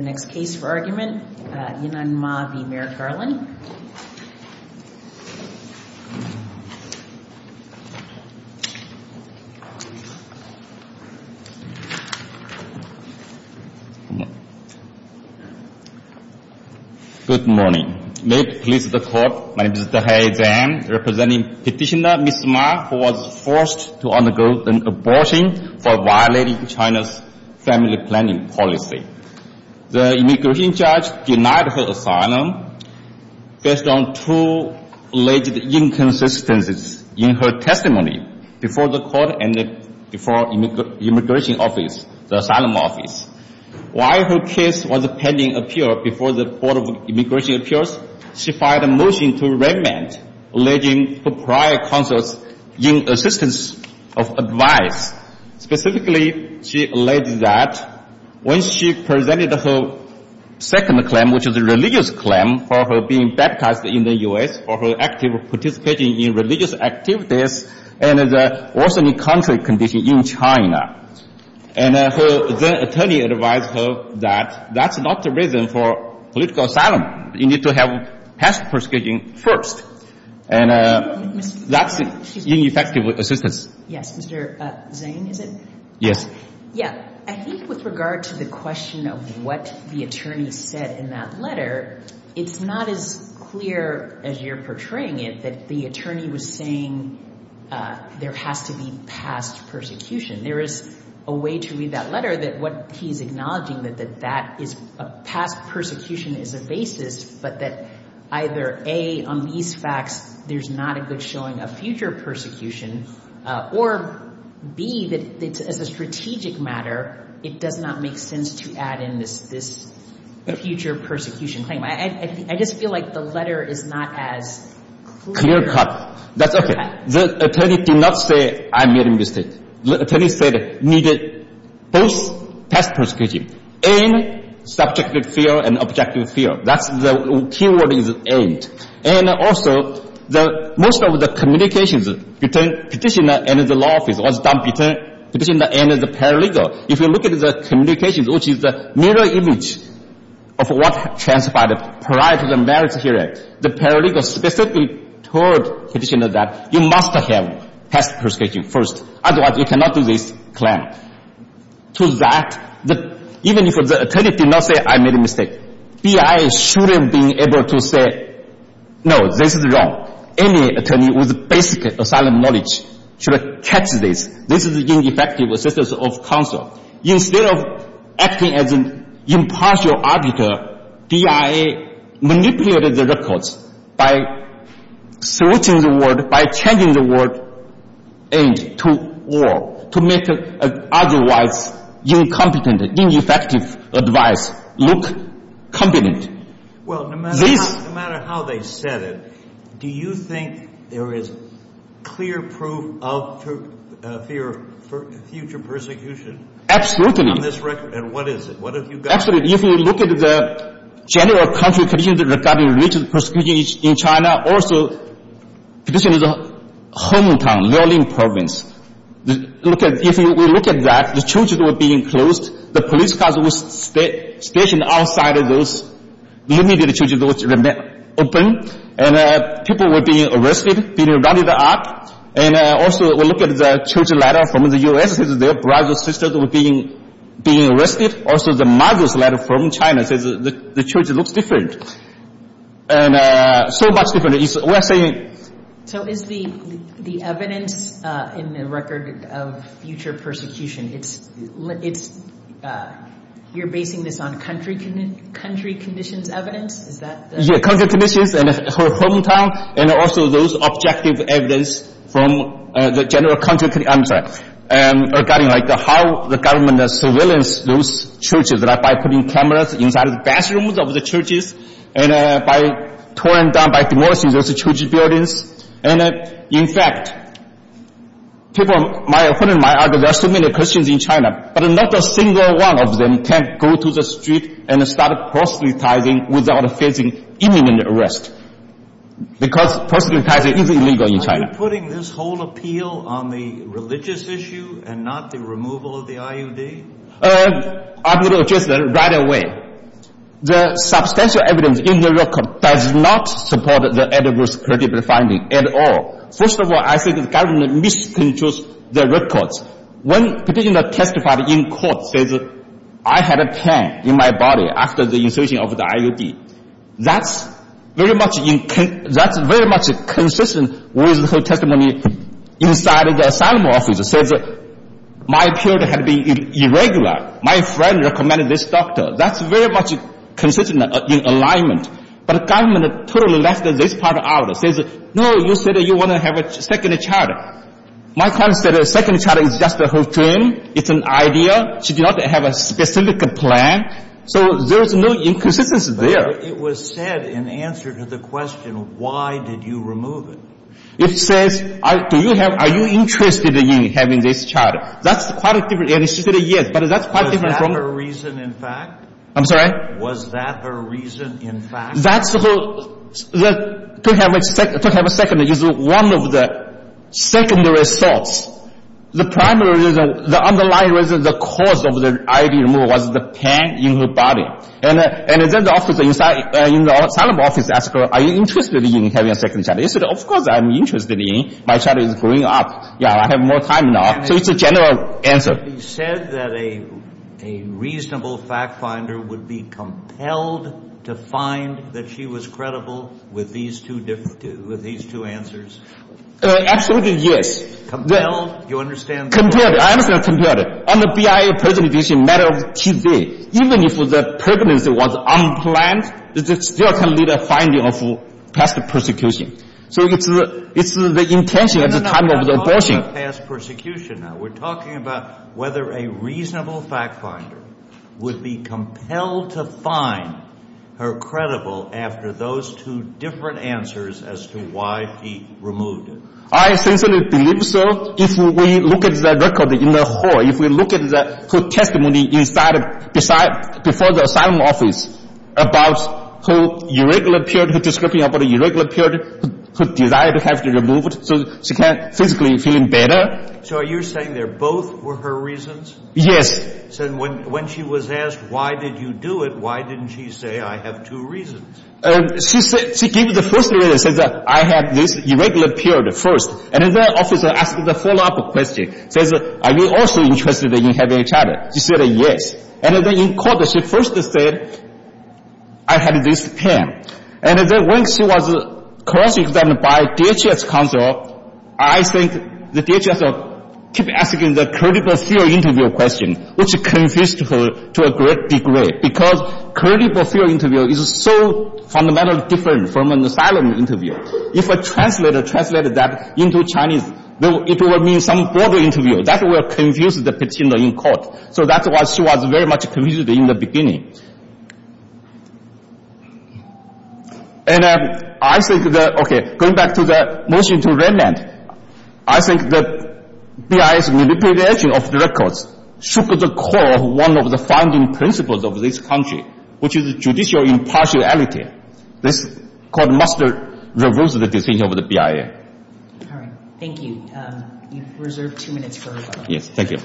The next case for argument, Yinan Ma v. Mayor Garland. Good morning. May it please the court, my name is Mr. He Jiayin, representing petitioner Ms. Ma who was forced to undergo an abortion for violating China's family planning policy. The immigration judge denied her asylum based on two alleged inconsistencies in her testimony before the court and before immigration office, the asylum office. While her case was pending appeal before the Board of Immigration Appeals, she filed a alleging for prior consults in assistance of advice. Specifically, she alleged that when she presented her second claim, which is a religious claim for her being baptized in the U.S. for her active participation in religious activities and the orthodox country condition in China. And her attorney advised her that that's not the reason for political asylum. Ms. Ma, you need to have past persecution first, and that's ineffective assistance. Yes, Mr. Zeng, is it? Yes. Yeah, I think with regard to the question of what the attorney said in that letter, it's not as clear as you're portraying it that the attorney was saying there has to be past persecution. There is a way to read that letter that what he's acknowledging that that is a past persecution is a basis, but that either A, on these facts, there's not a good showing a future persecution, or B, that as a strategic matter, it does not make sense to add in this future persecution claim. I just feel like the letter is not as clear. Clear cut. That's okay. The attorney did not say I made a mistake. The attorney said it needed both past persecution and subjective fear and objective fear. That's the key word is aimed. And also, most of the communications between petitioner and the law office was done between petitioner and the paralegal. If you look at the communications, which is the mirror image of what transpired prior to the merits hearing, the paralegal specifically told petitioner that you must have past persecution first. Otherwise, you cannot do this claim. To that, even if the attorney did not say I made a mistake, BIA should have been able to say, no, this is wrong. Any attorney with basic asylum knowledge should have catched this. This is ineffective assistance of counsel. Instead of acting as an impartial arbiter, BIA manipulated the records by switching the word aimed to war to make otherwise incompetent, ineffective advice look competent. Well, no matter how they said it, do you think there is clear proof of fear for future persecution? Absolutely. In this record? And what is it? What have you got? Absolutely. If you look at the general country conditions regarding religious persecution in China, also petitioner's hometown, Liaoning province, if you look at that, the churches were being closed. The police cars were stationed outside of those, the immediate churches were open. And people were being arrested, being rounded up. And also, we look at the church letter from the U.S. says their brothers and sisters were being arrested. Also, the mother's letter from China says the church looks different. And so much different. We're saying... So is the evidence in the record of future persecution, it's, you're basing this on country conditions evidence? Is that the... Yeah, country conditions and her hometown, and also those objective evidence from the surveillance, those churches, by putting cameras inside of the bathrooms of the churches, and by tearing down, by demolishing those church buildings. And in fact, people, my friend and I, there are so many Christians in China, but not a single one of them can go to the street and start proselytizing without facing imminent arrest. Because proselytizing is illegal in China. Are you putting this whole appeal on the religious issue and not the removal of the IUD? I'm going to address that right away. The substantial evidence in the record does not support the adverse critical finding at all. First of all, I think the government misconstrues the records. When petitioner testified in court, says, I had a pen in my body after the insertion of the IUD. That's very much consistent with her testimony inside the asylum office. Says, my period had been irregular. My friend recommended this doctor. That's very much consistent in alignment. But the government totally left this part out. Says, no, you said you want to have a second child. My client said a second child is just her dream. It's an idea. She did not have a specific plan. So there's no inconsistency there. But it was said in answer to the question, why did you remove it? It says, do you have, are you interested in having this child? That's quite a different, and she said yes, but that's quite different from Was that her reason in fact? I'm sorry? Was that her reason in fact? That's the whole, to have a second, to have a second is one of the secondary thoughts. The primary reason, the underlying reason, the cause of the IUD removal was the pain in her body. And then the office inside, in the asylum office asked her, are you interested in having a second child? She said, of course I'm interested in. My child is growing up. Yeah, I have more time now. So it's a general answer. You said that a reasonable fact finder would be compelled to find that she was credible with these two answers? Absolutely yes. Compelled? You understand that? Compelled. I understand compelled. On the BIA presentation matter of Tuesday, even if the pregnancy was unplanned, it still can lead to finding of past persecution. So it's the intention at the time of the abortion. No, no, no. I'm talking about past persecution now. We're talking about whether a reasonable fact finder would be compelled to find her credible after those two different answers as to why she removed it. I sincerely believe so. If we look at the record in the hall, if we look at her testimony inside before the asylum office about her irregular period, her description of her irregular period, her desire to have it removed so she can physically feel better. So are you saying that both were her reasons? Yes. So when she was asked why did you do it, why didn't she say I have two reasons? She gave the first reason. She said I have this irregular period first. And then the officer asked the follow-up question. He says are you also interested in having a child? She said yes. And then in court she first said I have this pain. And then when she was called by DHS counsel, I think the DHS kept asking the credible theory interview question, which confused her to a great degree because credible theory interview is so fundamentally different from an asylum interview. If a translator translated that into Chinese, it would mean some border interview. That would confuse the petitioner in court. So that's why she was very much confused in the beginning. And I think that, okay, going back to the motion to Redland, I think that BIA's manipulation of records shook the core of one of the founding principles of this country, which is judicial impartiality. This court must reverse the decision of the BIA. All right. Thank you. You've reserved two minutes for rebuttal. Yes. Thank you.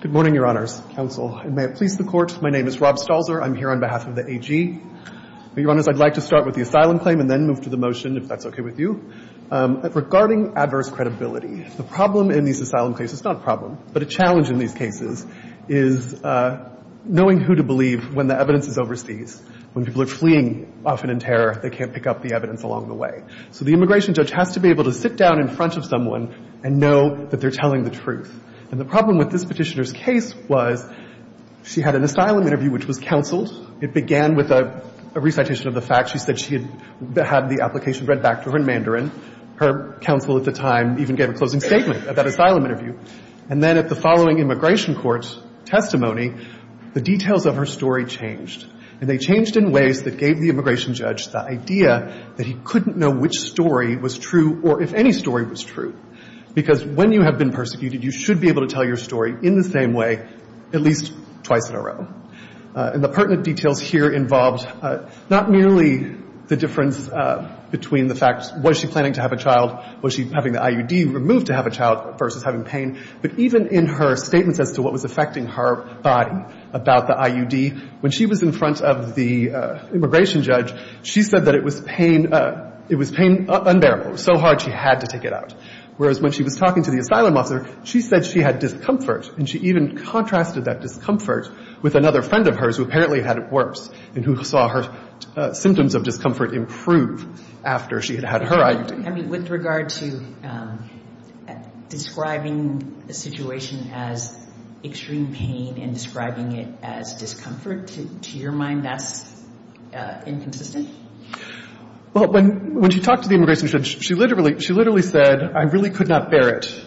Good morning, Your Honors. Counsel. And may it please the Court, my name is Rob Stalzer. I'm here on behalf of the AG. Your Honors, I'd like to start with the asylum claim and then move to the motion, if that's okay with you. Regarding adverse credibility, the problem in these asylum cases, it's not a problem, but a challenge in these cases is knowing who to believe when the evidence is overseas. When people are fleeing often in terror, they can't pick up the evidence along the way. So the immigration judge has to be able to sit down in front of someone and know that they're telling the truth. And the problem with this petitioner's case was she had an asylum interview which was counseled. It began with a recitation of the facts. She said she had the application read back to her in Mandarin. Her counsel at the time even gave a closing statement at that asylum interview. And then at the following immigration court's testimony, the details of her story changed. And they changed in ways that gave the immigration judge the idea that he couldn't know which story was true or if any story was true, because when you have been persecuted, you should be able to tell your story in the same way at least twice in a row. And the pertinent details here involved not merely the difference between the facts, was she planning to have a child, was she having the IUD removed to have a child versus having pain, but even in her statements as to what was affecting her body about the IUD, when she was in front of the immigration judge, she said that it was pain unbearable, so hard she had to take it out. Whereas when she was talking to the asylum officer, she said she had discomfort, and she even contrasted that discomfort with another friend of hers who apparently had it worse and who saw her symptoms of discomfort improve after she had had her IUD. I mean, with regard to describing the situation as extreme pain and describing it as discomfort, to your mind, that's inconsistent? Well, when she talked to the immigration judge, she literally said, I really could not bear it.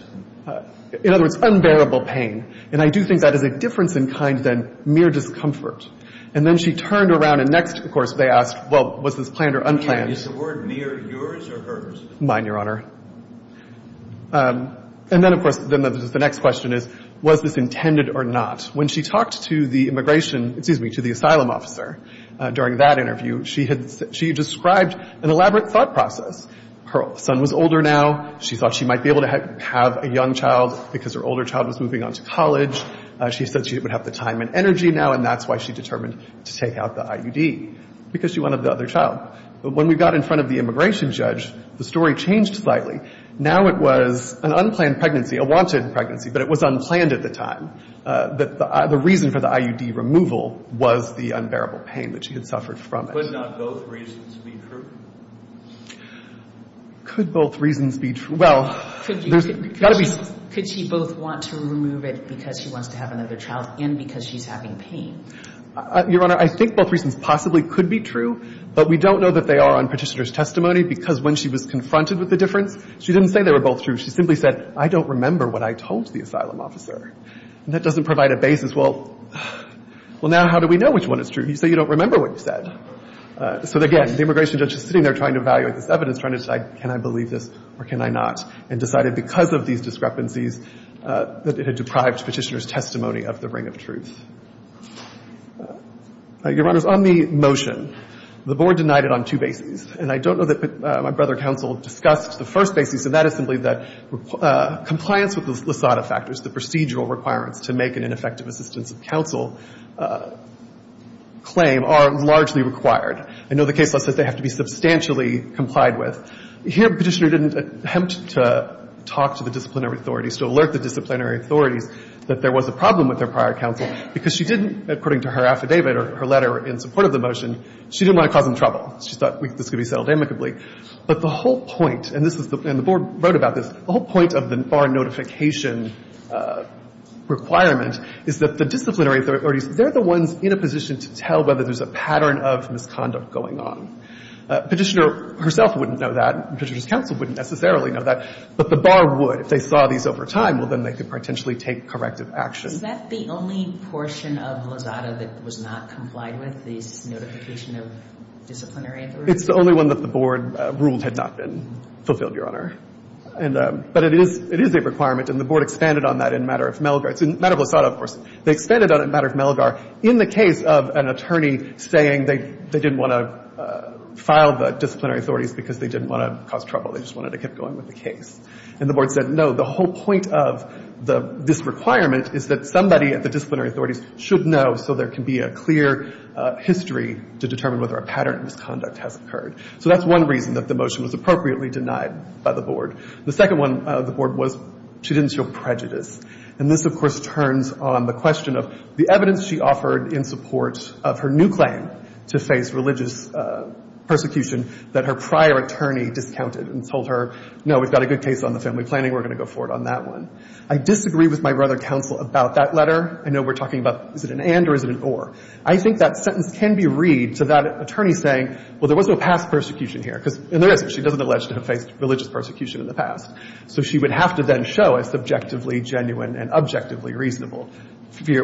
In other words, unbearable pain. And I do think that is a difference in kind than mere discomfort. And then she turned around and next, of course, they asked, well, was this planned or unplanned? Is the word mere yours or hers? Mine, Your Honor. And then, of course, the next question is, was this intended or not? When she talked to the immigration — excuse me, to the asylum officer during that interview, she described an elaborate thought process. Her son was older now. She thought she might be able to have a young child because her older child was moving on to college. She said she would have the time and energy now, and that's why she determined to take out the IUD, because she wanted the other child. But when we got in front of the immigration judge, the story changed slightly. Now it was an unplanned pregnancy, a wanted pregnancy, but it was unplanned at the time. The reason for the IUD removal was the unbearable pain that she had suffered from it. Could not both reasons be true? Could both reasons be true? Well, there's got to be — Could she both want to remove it because she wants to have another child and because she's having pain? Your Honor, I think both reasons possibly could be true, but we don't know that they are on Petitioner's testimony because when she was confronted with the difference, she didn't say they were both true. She simply said, I don't remember what I told the asylum officer. And that doesn't provide a basis. Well, now how do we know which one is true? You say you don't remember what you said. So again, the immigration judge is sitting there trying to evaluate this evidence, trying to decide, can I believe this or can I not, and decided because of these discrepancies that it had deprived Petitioner's testimony of the ring of truth. Your Honor, on the motion, the Board denied it on two bases. And I don't know that my brother counsel discussed the first basis, and that is simply that compliance with the LASADA factors, the procedural requirements to make an ineffective assistance of counsel claim, are largely required. I know the case law says they have to be substantially complied with. Here, Petitioner didn't attempt to talk to the disciplinary authorities, to alert the disciplinary authorities that there was a problem with their prior counsel because she didn't, according to her affidavit or her letter in support of the motion, she didn't want to cause them trouble. She thought this could be settled amicably. But the whole point, and this is the – and the Board wrote about this. The whole point of the bar notification requirement is that the disciplinary authorities, they're the ones in a position to tell whether there's a pattern of misconduct going on. Petitioner herself wouldn't know that. Petitioner's counsel wouldn't necessarily know that. But the bar would. If they saw these over time, well, then they could potentially take corrective action. Is that the only portion of LASADA that was not complied with, this notification of disciplinary authorities? It's the only one that the Board ruled had not been fulfilled, Your Honor. And – but it is – it is a requirement, and the Board expanded on that in matter of Melgar. It's in matter of LASADA, of course. They expanded on it in matter of Melgar. In the case of an attorney saying they – they didn't want to file the disciplinary authorities because they didn't want to cause trouble. They just wanted to get going with the case. And the Board said no. The whole point of the – this requirement is that somebody at the disciplinary authorities should know so there can be a clear history to determine whether a pattern of misconduct has occurred. So that's one reason that the motion was appropriately denied by the Board. The second one of the Board was she didn't show prejudice. And this, of course, turns on the question of the evidence she offered in support of her new claim to face religious persecution that her prior attorney discounted and told her, no, we've got a good case on the family planning. We're going to go forward on that one. I disagree with my brother counsel about that letter. I know we're talking about is it an and or is it an or. I think that sentence can be read to that attorney saying, well, there was no past persecution here, because – and there is. She doesn't allege to have faced religious persecution in the past. So she would have to then show a subjectively genuine and objectively reasonable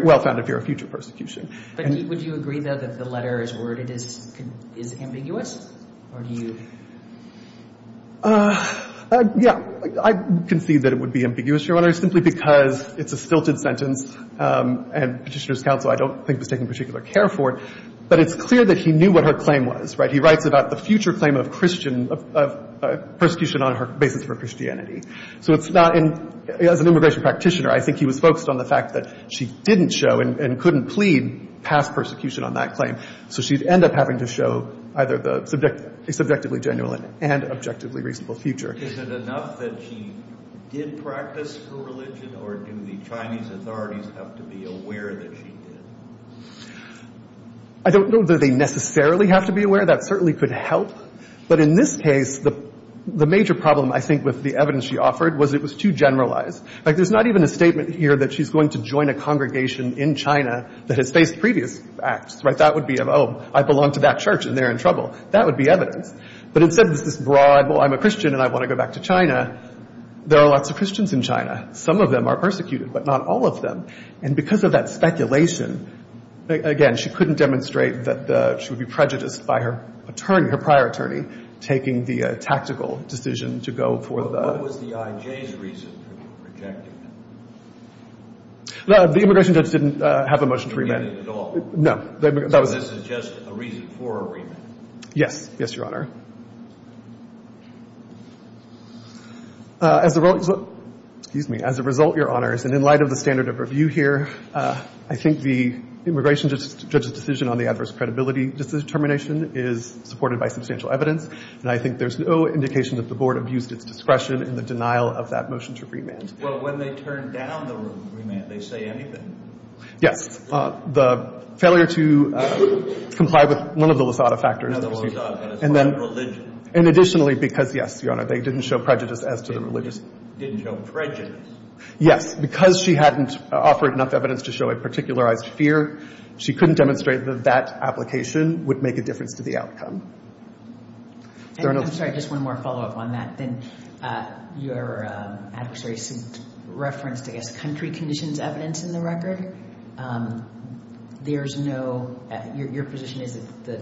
well-founded fear of future persecution. And – But would you agree, though, that the letter as worded is ambiguous? Or do you – I concede that it would be ambiguous, Your Honor, simply because it's a stilted sentence and Petitioner's counsel I don't think was taking particular care for it. But it's clear that he knew what her claim was, right? He writes about the future claim of Christian – of persecution on her basis for Christianity. So it's not – as an immigration practitioner, I think he was focused on the fact that she didn't show and couldn't plead past persecution on that claim. So she'd end up having to show either the subjectively genuine and objectively reasonable future. Is it enough that she did practice her religion, or do the Chinese authorities have to be aware that she did? I don't know that they necessarily have to be aware. That certainly could help. But in this case, the major problem, I think, with the evidence she offered was it was too generalized. Like, there's not even a statement here that she's going to join a congregation in China that has faced previous acts, right? That would be, oh, I belong to that church and they're in trouble. That would be evidence. But instead, there's this broad, well, I'm a Christian and I want to go back to China. There are lots of Christians in China. Some of them are persecuted, but not all of them. And because of that speculation, again, she couldn't demonstrate that she would be prejudiced by her attorney, her prior attorney, taking the tactical decision to go for the – What was the IJ's reason for rejecting her? The immigration judge didn't have a motion to remand. He didn't at all? No. So this is just a reason for a remand? Yes. Yes, Your Honor. As a result – excuse me. As a result, Your Honors, and in light of the standard of review here, I think the immigration judge's decision on the adverse credibility determination is supported by substantial evidence, and I think there's no indication that the Board abused its discretion in the denial of that motion to remand. Well, when they turn down the remand, they say anything? Yes. The failure to comply with one of the Lusada factors. No, the Lusada. And additionally, because, yes, Your Honor, they didn't show prejudice as to the religious – Didn't show prejudice? Yes. Because she hadn't offered enough evidence to show a particularized fear, she couldn't demonstrate that that application would make a difference to the outcome. I'm sorry, just one more follow-up on that. Your adversary referenced, I guess, country conditions evidence in the record. There's no – your position is that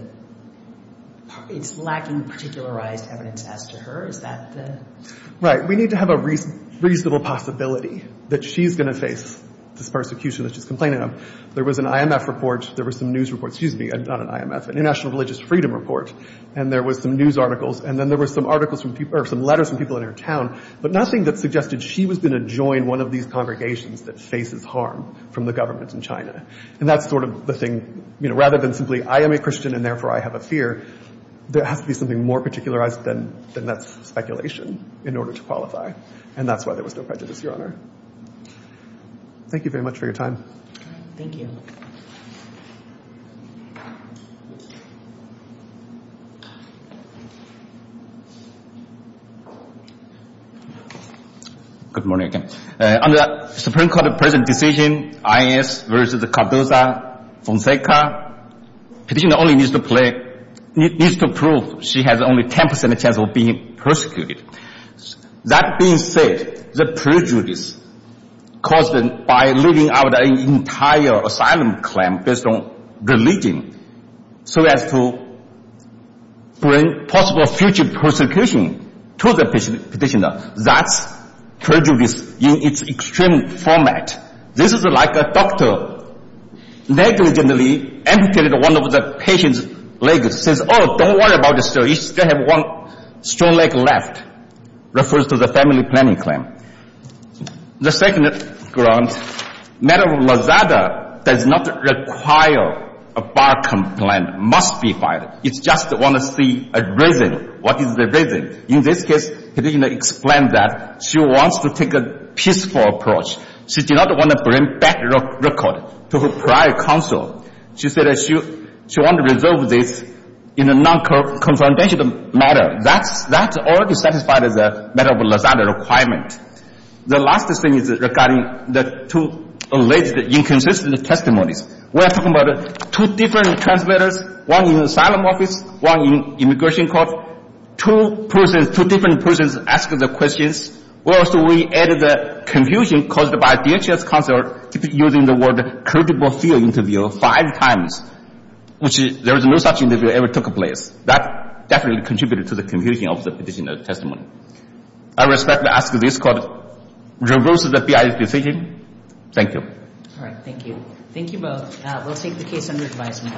it's lacking particularized evidence as to her. Is that the – Right. We need to have a reasonable possibility that she's going to face this persecution that she's complaining of. There was an IMF report. There was some news report – excuse me, not an IMF – an International Religious Freedom report, and there was some news articles, and then there were some articles from – or some letters from people in her town, but nothing that suggested she was going to join one of these congregations that faces harm from the government in China. And that's sort of the thing. Rather than simply, I am a Christian and therefore I have a fear, there has to be something more particularized than that speculation in order to qualify. And that's why there was no prejudice, Your Honor. Thank you very much for your time. Thank you. Good morning. On the Supreme Court present decision, I.S. versus Cardoza, Fonseca, petitioner only needs to play – needs to prove she has only 10 percent chance of being persecuted. That being said, the prejudice caused by leaving out an entire asylum claim based on religion so as to bring possible future persecution to the petitioner, that's prejudice in its extreme format. This is like a doctor negligently amputated one of the patient's legs, says, oh, don't worry about it, sir, you still have one strong leg left, refers to the family planning claim. The second grounds, Madam Lozada does not require a bar complaint, must be filed. It's just want to see a reason, what is the reason. In this case, the petitioner explained that she wants to take a peaceful approach. She did not want to bring back record to her prior counsel. She said she wanted to resolve this in a non-confrontational manner. That's already satisfied as a matter of Lozada requirement. The last thing is regarding the two alleged inconsistent testimonies. We are talking about two different transmitters, one in asylum office, one in prison, two different persons asking the questions. Also, we added the confusion caused by DHS counselor using the word credible field interview five times, which there is no such interview ever took place. That definitely contributed to the confusion of the petitioner's testimony. I respectfully ask that this court reverse the BIA's decision. Thank you. All right. Thank you. Thank you both. We'll take the case under advisement.